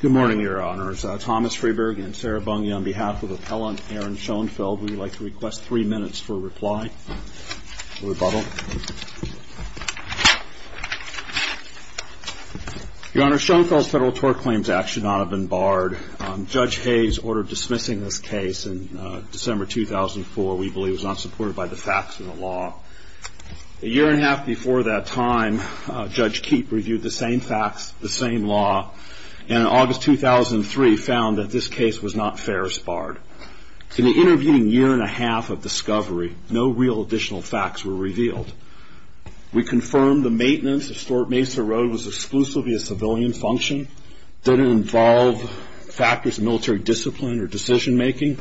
Good morning, Your Honors. Thomas Freeberg and Sarah Bunge on behalf of Appellant Aaron Schoenfeld, we would like to request three minutes for a reply, a rebuttal. Your Honors, Schoenfeld's Federal Tort Claims Act should not have been barred. Judge Hayes ordered dismissing this case in December 2004. We believe it was not supported by the facts in the law. A year and a half before that time, Judge Keepe reviewed the same facts, the same law, and in August 2003 found that this case was not fair as barred. In the intervening year and a half of discovery, no real additional facts were revealed. We confirmed the maintenance of Fort Mesa Road was exclusively a civilian function, didn't involve factors of military discipline or decision-making.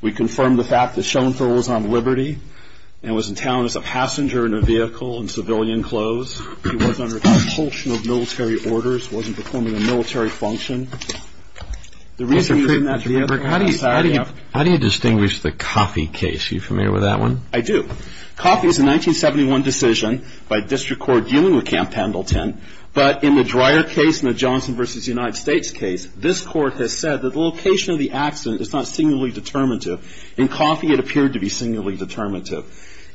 We confirmed the fact that Schoenfeld was on liberty and was in town as a passenger in a vehicle in civilian clothes. He was under compulsion of military orders, wasn't performing a military function. Mr. Freeberg, how do you distinguish the Coffey case? Are you familiar with that one? I do. Coffey is a 1971 decision by District Court dealing with Camp Pendleton, but in the Dreyer case and the Johnson v. United States case, this Court has said that the location of the accident is not singularly determinative. In Coffey, it appeared to be singularly determinative.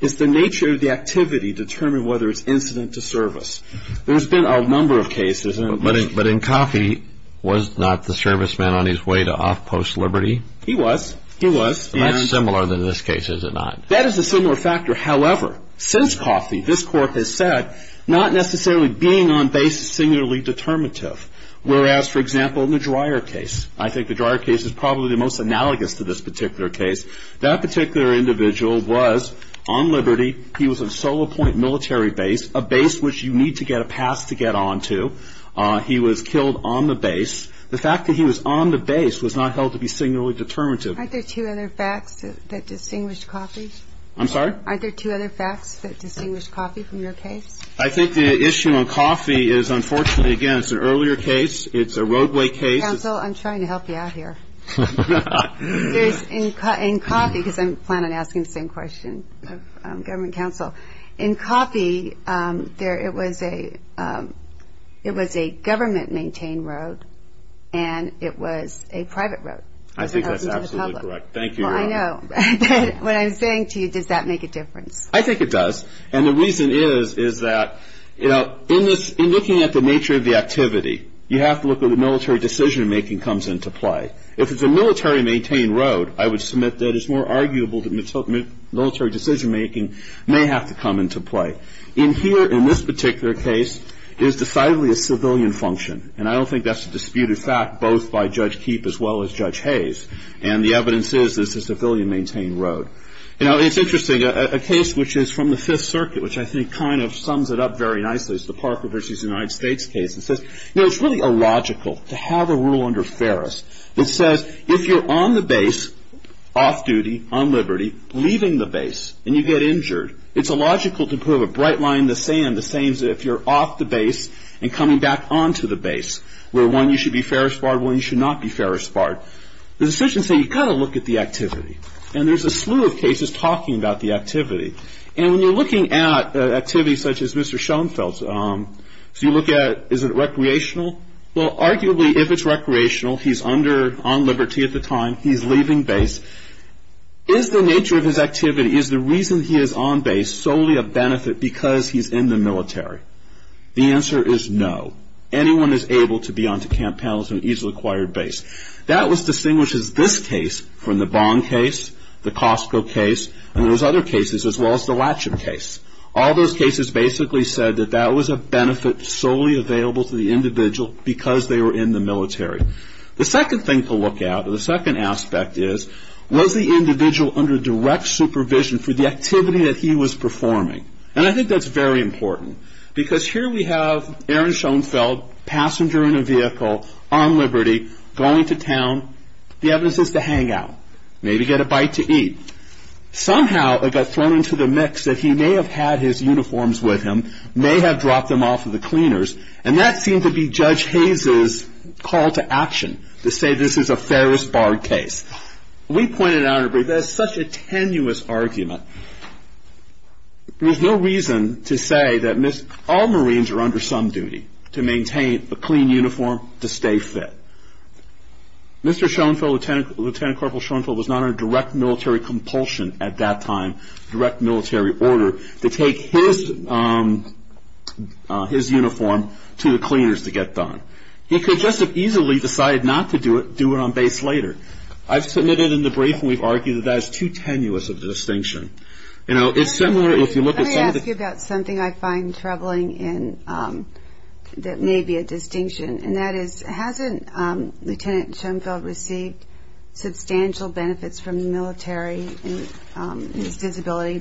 It's the nature of the activity to determine whether it's incident to service. There's been a number of cases. But in Coffey, was not the serviceman on his way to off-post liberty? He was. He was. That's similar than this case, is it not? That is a similar factor. However, since Coffey, this Court has said not necessarily being on base is singularly determinative. Whereas, for example, in the Dreyer case, I think the Dreyer case is probably the most analogous to this particular case. That particular individual was on liberty. He was a solo point military base, a base which you need to get a pass to get onto. He was killed on the base. The fact that he was on the base was not held to be singularly determinative. Aren't there two other facts that distinguish Coffey? I'm sorry? Aren't there two other facts that distinguish Coffey from your case? I think the issue on Coffey is, unfortunately, again, it's an earlier case. It's a roadway case. Counsel, I'm trying to help you out here. In Coffey, because I plan on asking the same question of government counsel. In Coffey, it was a government-maintained road, and it was a private road. I think that's absolutely correct. Thank you. Well, I know. But what I'm saying to you, does that make a difference? I think it does. And the reason is, is that, you know, in this, in looking at the nature of the activity, you have to look at the military decision-making comes into play. If it's a military-maintained road, I would submit that it's more arguable that military decision-making may have to come into play. In here, in this particular case, it was decidedly a civilian function. And I don't think that's a disputed fact, both by Judge Keep as well as Judge Hayes. And the evidence is it's a civilian-maintained road. You know, it's interesting. A case which is from the Fifth Circuit, which I think kind of sums it up very nicely, is the Parker v. United States case. It says, you know, it's really illogical to have a rule under Ferris that says if you're on the base, off duty, on liberty, leaving the base, and you get injured, it's illogical to prove a bright line in the sand the same as if you're off the base and coming back onto the base, where one, you should be Ferris-barred, one, you should not be Ferris-barred. The decisions say you've got to look at the activity. And there's a slew of cases talking about the activity. And when you're looking at activities such as Mr. Schoenfeld's, so you look at, is it recreational? Well, arguably, if it's recreational, he's under, on liberty at the time, he's leaving base. Is the nature of his activity, is the reason he is on base solely a benefit because he's in the military? The answer is no. Anyone is able to be onto camp panels and easily acquired base. That was distinguished as this case from the Bong case, the Costco case, and those other cases, as well as the Latchip case. All those cases basically said that that was a benefit solely available to the individual because they were in the military. The second thing to look at, or the second aspect is, was the individual under direct supervision for the activity that he was performing? And I think that's very important. Because here we have Aaron Schoenfeld, passenger in a vehicle, on liberty, going to town. The evidence is to hang out, maybe get a bite to eat. Somehow it got thrown into the mix that he may have had his uniforms with him, may have dropped them off at the cleaners, and that seemed to be Judge Hayes' call to action, to say this is a Ferris Bar case. We pointed out, there's such a tenuous argument. There's no reason to say that all Marines are under some duty, to maintain a clean uniform, to stay fit. Mr. Schoenfeld, Lieutenant Corporal Schoenfeld, was not under direct military compulsion at that time, direct military order, to take his uniform to the cleaners to get done. He could just as easily decide not to do it, do it on base later. I've submitted in the brief, and we've argued that that is too tenuous of a distinction. You know, it's similar if you look at some of the... Let me ask you about something I find troubling that may be a distinction, and that is, hasn't Lieutenant Schoenfeld received substantial benefits from the military in his disability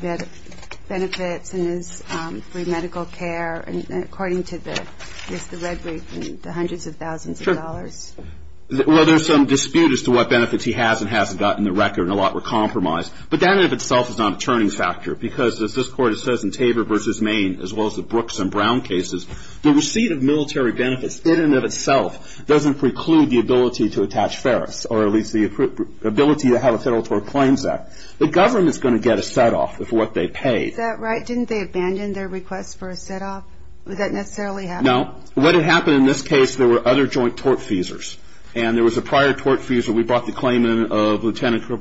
benefits and his free medical care, according to the Red Brief, in the hundreds of thousands of dollars? Well, there's some dispute as to what benefits he has and hasn't gotten the record, and a lot were compromised. But that in and of itself is not a turning factor, because as this Court has said in Tabor v. Maine, as well as the Brooks and Brown cases, the receipt of military benefits in and of itself doesn't preclude the ability to attach Ferris, or at least the ability to have a Federal Tort Claims Act. The government's going to get a set-off for what they paid. Is that right? Didn't they abandon their request for a set-off? Would that necessarily happen? No. What had happened in this case, there were other joint tort feasors, and there was a prior tort feasor. We brought the claim in of Lieutenant... of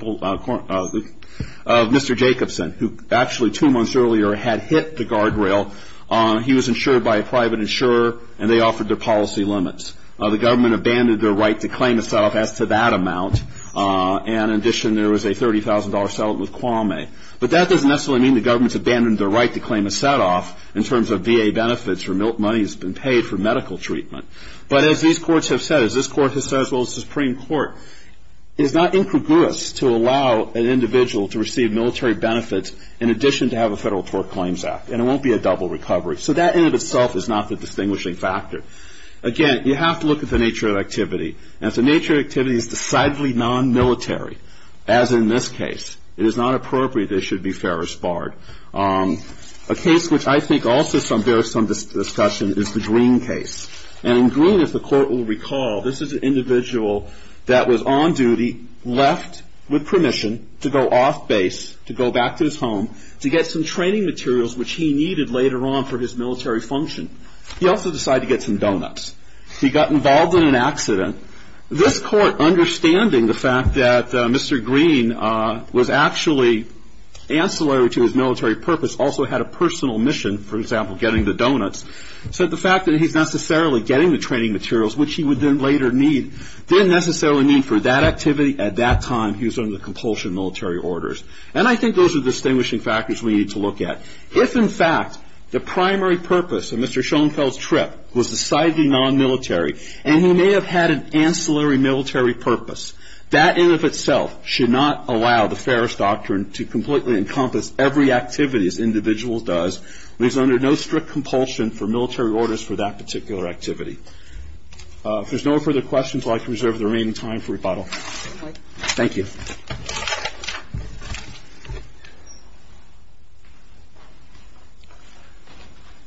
Mr. Jacobson, who actually two months earlier had hit the guardrail. He was insured by a private insurer, and they offered their policy limits. The government abandoned their right to claim a set-off as to that amount, and in addition, there was a $30,000 settlement with Kwame. But that doesn't necessarily mean the government's abandoned their right to claim a set-off in terms of VA benefits or money that's been paid for medical treatment. But as these courts have said, as this court has said, as well as the Supreme Court, it is not incongruous to allow an individual to receive military benefits in addition to have a Federal Tort Claims Act, and it won't be a double recovery. So that in and of itself is not the distinguishing factor. Again, you have to look at the nature of activity, and if the nature of activity is decidedly non-military, as in this case, it is not appropriate that it should be Ferris barred. A case which I think also bears some discussion is the Greene case. And in Greene, if the Court will recall, this is an individual that was on duty, left with permission to go off base, to go back to his home, to get some training materials which he needed later on for his military function. He also decided to get some donuts. He got involved in an accident. This Court, understanding the fact that Mr. Greene was actually ancillary to his military purpose, also had a personal mission, for example, getting the donuts, said the fact that he's necessarily getting the training materials, which he would then later need, didn't necessarily mean for that activity at that time he was under compulsion military orders. And I think those are distinguishing factors we need to look at. If, in fact, the primary purpose of Mr. Schoenfeld's trip was decidedly non-military, and he may have had an ancillary military purpose, that in and of itself should not allow the Ferris Doctrine to completely encompass every activity as an individual does, leaves under no strict compulsion for military orders for that particular activity. If there's no further questions, I'd like to reserve the remaining time for rebuttal. LOWELL STERGEL, U.S. DISTRICT COURT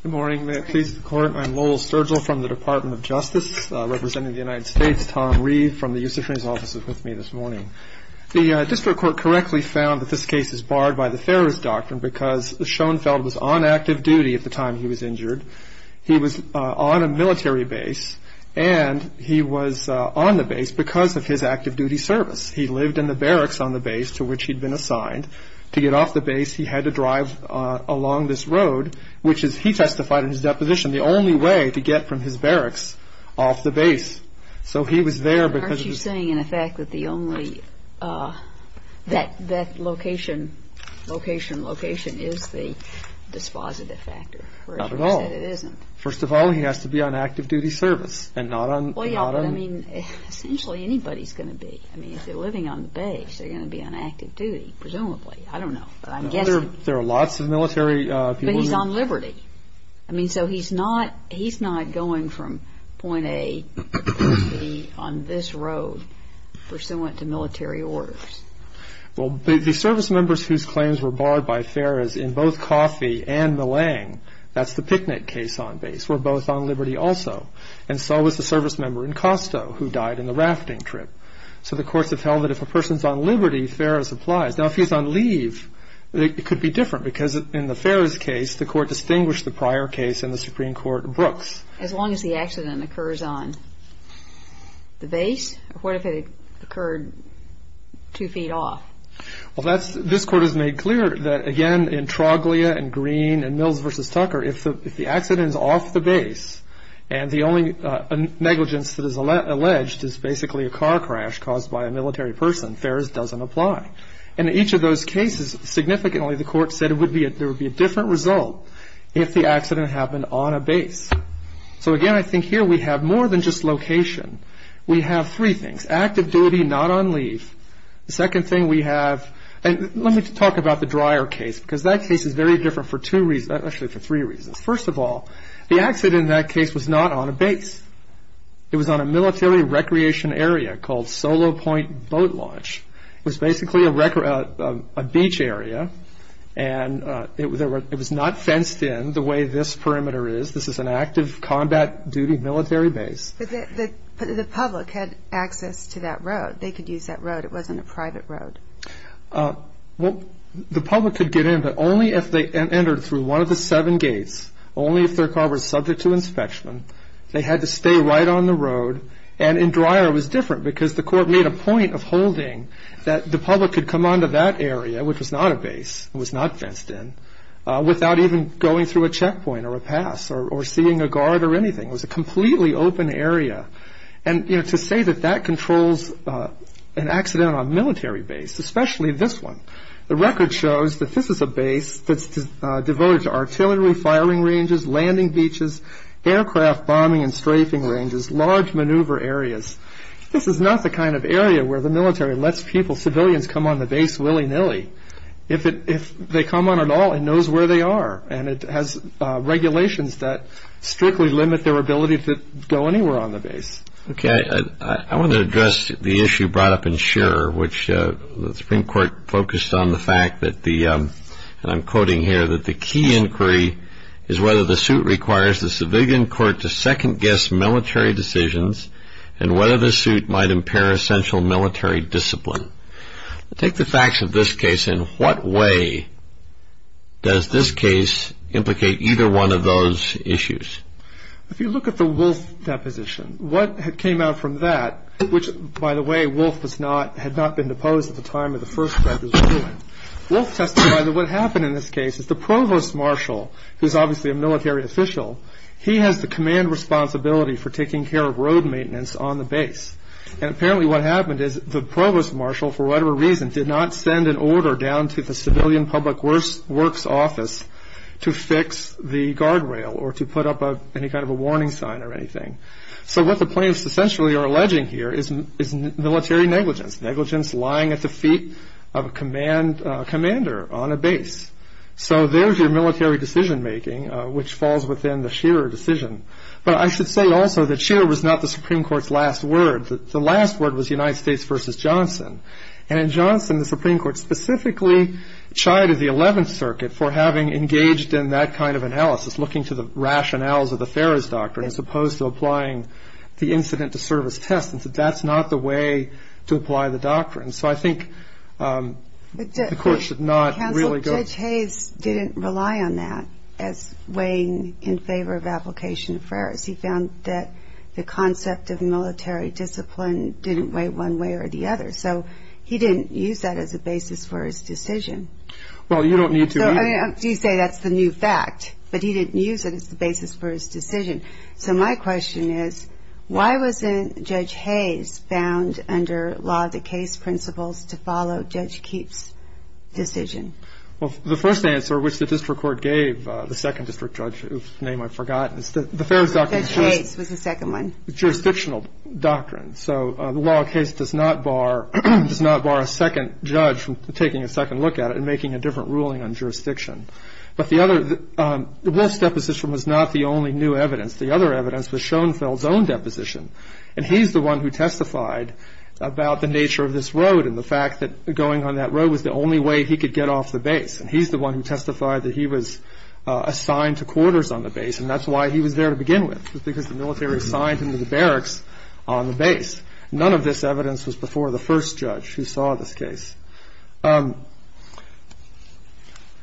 Good morning. May it please the Court, I'm Lowell Stergel from the Department of Justice, representing the United States. Tom Reeve from the U.S. District Attorney's Office is with me this morning. The District Court correctly found that this case is barred by the Ferris Doctrine because Schoenfeld was on active duty at the time he was injured. He was on a military base, and he was on the base because of his active duty service. He lived in the barracks on the base to which he'd been assigned. To get off the base, he had to drive along this road, which is, he testified in his deposition, the only way to get from his barracks off the base. So he was there because of his – I'm saying, in effect, that the only – that location, location, location is the dispositive factor. Not at all. Or as you said, it isn't. First of all, he has to be on active duty service, and not on – Well, yeah, but I mean, essentially, anybody's going to be. I mean, if they're living on the base, they're going to be on active duty, presumably. I don't know, but I'm guessing. There are lots of military people who – Well, the servicemembers whose claims were barred by Farris in both Coffey and Millang, that's the Picnick case on base, were both on liberty also. And so was the servicemember in Costo, who died in the rafting trip. So the courts have held that if a person's on liberty, Farris applies. Now, if he's on leave, it could be different, because in the Farris case, the court distinguished the prior case and the Supreme Court Brooks. As long as the accident occurs on the base? Or what if it occurred two feet off? Well, that's – this Court has made clear that, again, in Troglia and Green and Mills v. Tucker, if the accident is off the base, and the only negligence that is alleged is basically a car crash caused by a military person, Farris doesn't apply. In each of those cases, significantly, the Court said it would be – there would be a different result if the accident happened on a base. So, again, I think here we have more than just location. We have three things. Active duty, not on leave. The second thing we have – and let me talk about the Dreyer case, because that case is very different for two reasons – actually, for three reasons. First of all, the accident in that case was not on a base. It was on a military recreation area called Solo Point Boat Launch. It was not fenced in the way this perimeter is. This is an active combat duty military base. But the public had access to that road. They could use that road. It wasn't a private road. Well, the public could get in, but only if they entered through one of the seven gates, only if their car was subject to inspection. They had to stay right on the road. And in Dreyer, it was different, because the Court made a point of holding that the public could come onto that area, which was not a base, it was not fenced in, without even going through a checkpoint or a pass or seeing a guard or anything. It was a completely open area. And to say that that controls an accident on a military base, especially this one, the record shows that this is a base that's devoted to artillery firing ranges, landing beaches, aircraft bombing and strafing ranges, large maneuver areas. This is not the kind of area where the military lets people, civilians, come on the base willy-nilly. If they come on at all, it knows where they are. And it has regulations that strictly limit their ability to go anywhere on the base. Okay. I want to address the issue brought up in Scherer, which the Supreme Court focused on the fact that the, and I'm quoting here, that the key inquiry is whether the suit requires the civilian court to second-guess military decisions and whether the suit might impair essential military discipline. Take the facts of this case. In what way does this case implicate either one of those issues? If you look at the Wolfe deposition, what came out from that, which, by the way, Wolfe was not, had not been deposed at the time of the first record. Wolfe testified that what happened in this case is the Provost Marshal, who's obviously a military official, he has the command responsibility for taking care of road maintenance on the base. And what happened is the Provost Marshal, for whatever reason, did not send an order down to the civilian public works office to fix the guardrail or to put up any kind of a warning sign or anything. So what the plaintiffs essentially are alleging here is military negligence, negligence lying at the feet of a commander on a base. So there's your military decision-making, which falls within the Scherer decision. But I should say also that Scherer was not the Supreme Court. His Supreme Court was United States v. Johnson. And in Johnson, the Supreme Court specifically chided the Eleventh Circuit for having engaged in that kind of analysis, looking to the rationales of the Ferris Doctrine, as opposed to applying the incident-to-service test, and said that's not the way to apply the doctrine. So I think the Court should not really go to the Supreme Court. But Judge Hayes didn't rely on that as weighing in favor of application of Ferris. He found that the concept of military discipline didn't weigh one way or the other. So he didn't use that as a basis for his decision. Well, you don't need to. So, I mean, you say that's the new fact. But he didn't use it as the basis for his decision. So my question is, why wasn't Judge Hayes found under law the case principles to follow Judge Keefe's decision? Well, the first answer, which the district court gave, the second district judge whose name I've forgotten, is that the Ferris Doctrine Judge Hayes was the second one. Jurisdictional doctrine. So the law case does not bar a second judge from taking a second look at it and making a different ruling on jurisdiction. But the Wolf's deposition was not the only new evidence. The other evidence was Schoenfeld's own deposition. And he's the one who testified about the nature of this road and the fact that going on that road was the only way he could get off the base. And he's the one who testified that he was assigned to quarters on the base. And that's why he was there to because the military assigned him to the barracks on the base. None of this evidence was before the first judge who saw this case.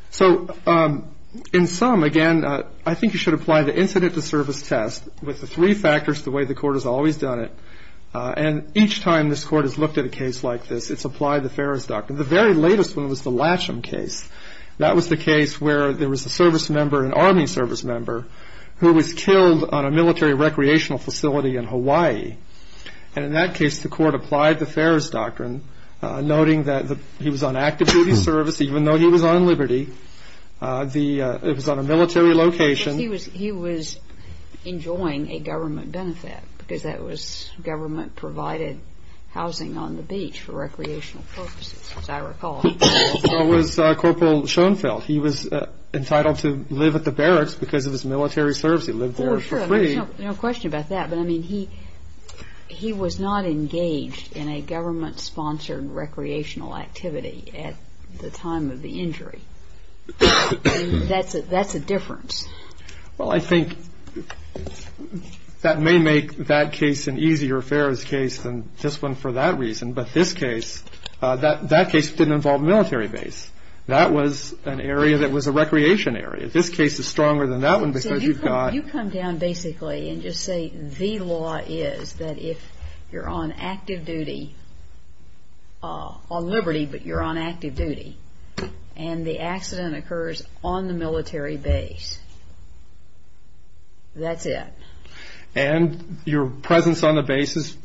So in sum, again, I think you should apply the incident to service test with the three factors the way the court has always done it. And each time this court has looked at a case like this, it's applied the Ferris Doctrine. The very latest one was the Latcham case. That was the case where there was a service member who was killed on a military recreational facility in Hawaii. And in that case, the court applied the Ferris Doctrine, noting that he was on active duty service even though he was on liberty. It was on a military location. He was enjoying a government benefit because that was government-provided housing on the beach for recreational purposes, as I recall. That was Corporal Schoenfeld. He was entitled to live at the barracks because of his military service. He lived there for free. Oh, sure. No question about that. But, I mean, he was not engaged in a government-sponsored recreational activity at the time of the injury. I mean, that's a difference. Well, I think that may make that case an easier Ferris case than this one for that reason. But this case, that case didn't involve a military base. That was an area that was a recreation area. This case is stronger than that one because you've got... You come down basically and just say the law is that if you're on active duty, on liberty but you're on active duty, and the accident occurs on the military base, that's it. And your presence on the base has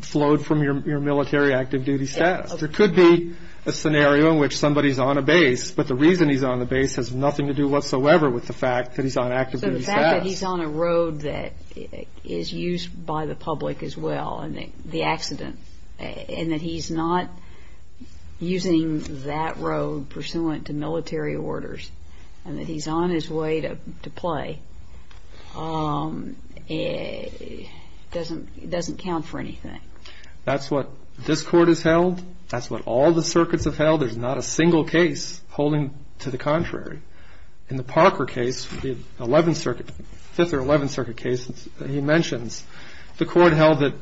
flowed from your military active duty status. There could be a scenario in which somebody's on a base, but the reason he's on the base has nothing to do whatsoever with the fact that he's on active duty status. So the fact that he's on a road that is used by the public as well, the accident, and that he's not using that road pursuant to military orders, and that he's on his way to play, doesn't count for anything. That's what this Court has held. That's what all the circuits have held. There's not a single case holding to the contrary. In the Parker case, the Fifth or Eleventh Circuit case that he mentions, the Court held that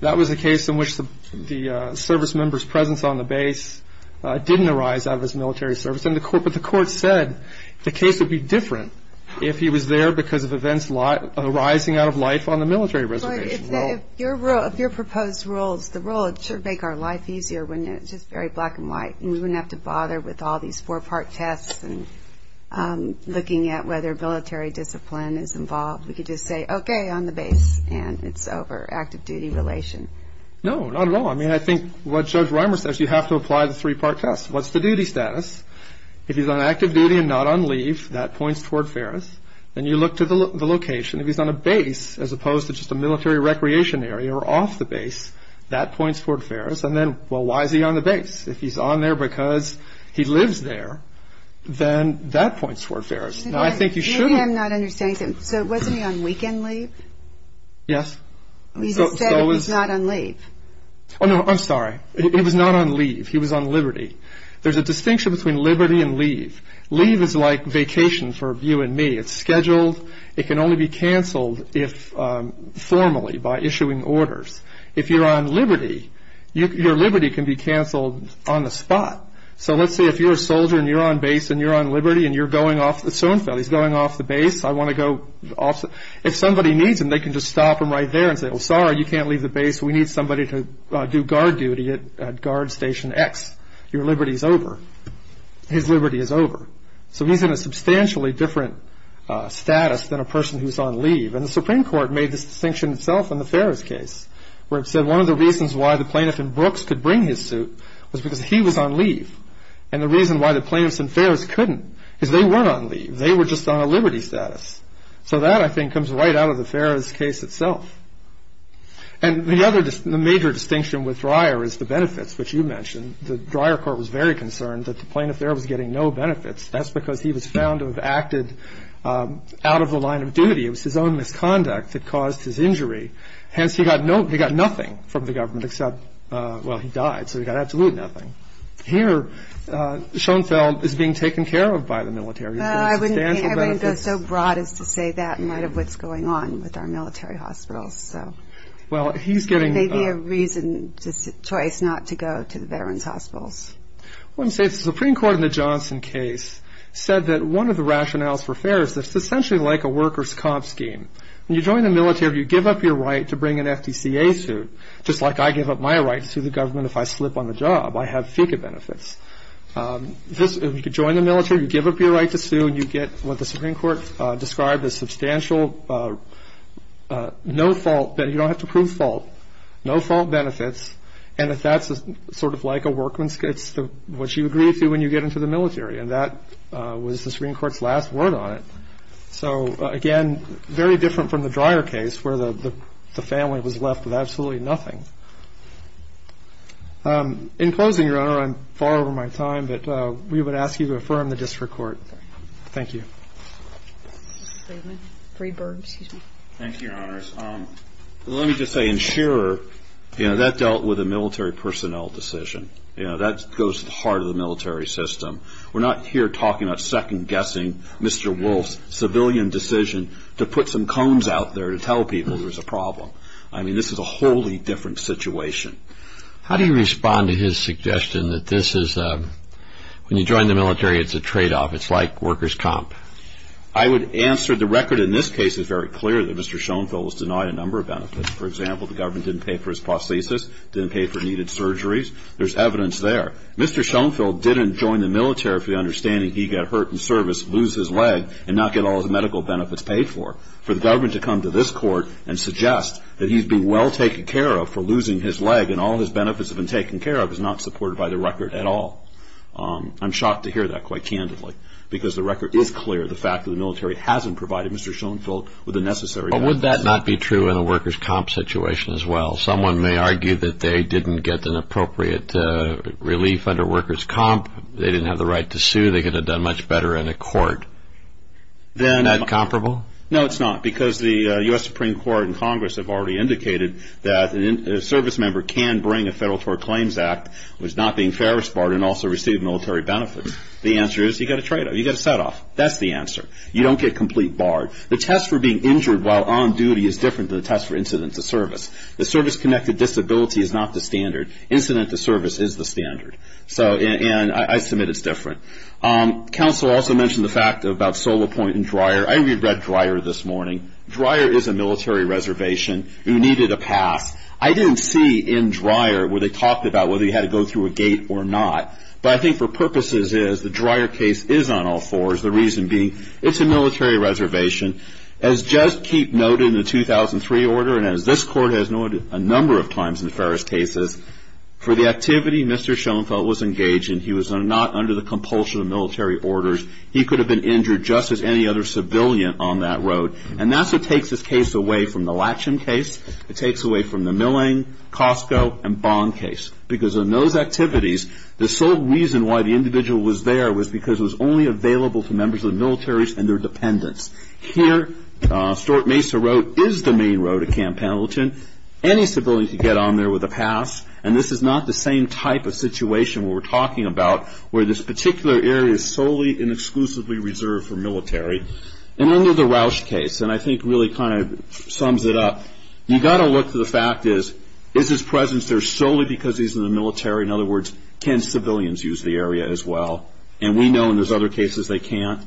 that was a case in which the service member's presence on the base didn't arise out of his military service. But the Court said the case would be different if he was there because of events arising out of life on the military reservation. But if your proposed rules, the rule, it should make our life easier when it's just very black and white, and we wouldn't have to bother with all these four-part tests and looking at whether military discipline is involved. We could just say, okay, I'm the base, and it's over, active duty relation. No, not at all. I mean, I think what Judge Reimer says, you have to apply the three-part test. What's the duty status? If he's on active duty and not on leave, that points toward Ferris. Then you look to the location. If he's on a base, as opposed to just a military recreation area or off the base, that points toward Ferris. And then, well, why is he on the base? If he's on there because he lives there, then that points toward Ferris. Now, I think you should... I'm not understanding. So wasn't he on weekend leave? Yes. He said he was not on leave. Oh, no, I'm sorry. He was not on leave. He was on liberty. There's a distinction between liberty and leave. Leave is like vacation for you and me. It's scheduled. It can only be canceled formally by issuing orders. If you're on liberty, your liberty can be canceled on the spot. So let's say if you're a soldier, and you're on base, and you're on liberty, and you're going off... So and so, he's going off the base. I want to go off... If somebody needs him, they can just stop him right there and say, oh, sorry, you can't leave the base. We need somebody to do guard duty at Guard Station X. Your liberty's over. His liberty is over. So he's in a substantially different status than a person who's on leave. And the Supreme Court made this distinction itself in the Ferris case, where it said one of the reasons why the plaintiff in Brooks could bring his suit was because he was on leave. And the reason why the plaintiffs in Ferris couldn't is they weren't on leave. They were just on a liberty status. So that, I think, comes right out of the Ferris case itself. And the other major distinction with Dreyer is the benefits, which you mentioned. The Dreyer court was very concerned that the plaintiff there was getting no benefits. That's because he was found to have acted out of the line of duty. It was his own misconduct that caused his injury. Hence, he got nothing from the government except, well, he died. So he got absolutely nothing. Here, Schoenfeld is being taken care of by the military. Well, I wouldn't go so broad as to say that in light of what's going on with our military hospitals. So there may be a reason, just a choice, not to go to the veterans' hospitals. Well, you say the Supreme Court in the Johnson case said that one of the rationales for Ferris is that it's essentially like a workers' comp scheme. When you join the military, you give up your right to bring an FDCA suit, just like I give up my right to sue the government if I slip on the job. I have FICA benefits. If you could join the military, you give up your right to sue, and you get what the Supreme Court described as substantial no-fault benefits. You don't have to prove fault. No-fault benefits. And that's sort of like a workman's case, which you agree to when you get into the military. And that was the Supreme Court's last word on it. So again, very different from the Dreyer case, where the family was left with absolutely nothing. In closing, Your Honor, I'm far over my time, but we would ask you to affirm the District Court. Thank you. Thank you, Your Honors. Let me just say, in Scherer, you know, that dealt with a military personnel decision. You know, that goes to the heart of the military system. We're not here talking about second-guessing Mr. Wolfe's civilian decision to put some cones out there to tell people there's a problem. I mean, this is a wholly different situation. How do you respond to his suggestion that this is a, when you join the military, it's a tradeoff. It's like workers' comp. I would answer, the record in this case is very clear that Mr. Schoenfeld was denied a number of benefits. For example, the government didn't pay for his prosthesis, didn't pay for needed surgeries. There's evidence there. Mr. Schoenfeld didn't join the military for the understanding he'd get hurt in service, lose his leg, and not get all his medical benefits paid for. For the government to come to this Court and suggest that he's been well taken care of for losing his leg and all his benefits have been taken care of is not supported by the record at all. I'm shocked to hear that quite candidly, because the record is clear, the fact that the military hasn't provided Mr. Schoenfeld with the necessary benefits. But would that not be true in a workers' comp situation as well? Someone may argue that they didn't get an appropriate relief under workers' comp. They didn't have the right to sue. They could have done much better in a court. Is that comparable? No, it's not, because the U.S. Supreme Court and Congress have already indicated that a service member can bring a Federal Tort Claims Act which is not being ferrous barred and also receive military benefits. The answer is you get a trade-off. You get a set-off. That's the answer. You don't get complete barred. The test for being injured while on duty is different than the test for incident to service. The service-connected disability is not the standard. Incident to service is the standard. And I submit it's different. Counsel also mentioned the fact about Solopoint and Dreyer. I reread Dreyer this morning. Dreyer is a military reservation who needed a pass. I didn't see in Dreyer where they talked about whether he had to go through a gate or not. But I think for purposes is the Dreyer case is on all fours, the reason being it's a military reservation. As just keep noted in the 2003 order and as this Court has noted a number of times in the Ferris cases, for the activity Mr. Schoenfeld was engaged in, he was not under the compulsion of military orders. He could have been injured just as any other civilian on that road. And that's what takes this case away from the Latcham case. It takes away from the Milling, Costco, and Bond case. Because in those activities, the sole reason why the individual was there was because it was only available to members of the militaries and their dependents. Here, Stort Mesa Road is the main road at Camp Pendleton. Any civilian could get on there with a pass. And this is not the same type of situation we're talking about where this particular area is solely and exclusively reserved for military. And under the Roush case, and I think really kind of sums it up, you've got to look to the fact is, is his presence there solely because he's in the military? In other words, can civilians use the area as well? And we know in those other cases they can't.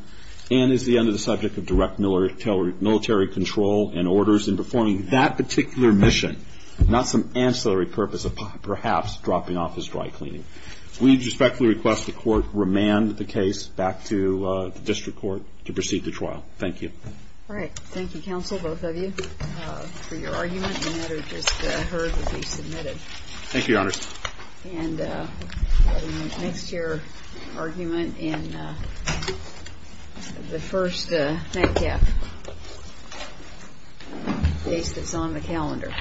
And is he under the subject of direct military control and orders in performing that particular mission, not some ancillary purpose of perhaps dropping off his dry cleaning? We respectfully request the court remand the case back to the district court to proceed the trial. Thank you. All right. Thank you, counsel, both of you, for your argument. And that I just heard would be submitted. Thank you, your honors. And next year argument in the first NACAP case that's on the calendar.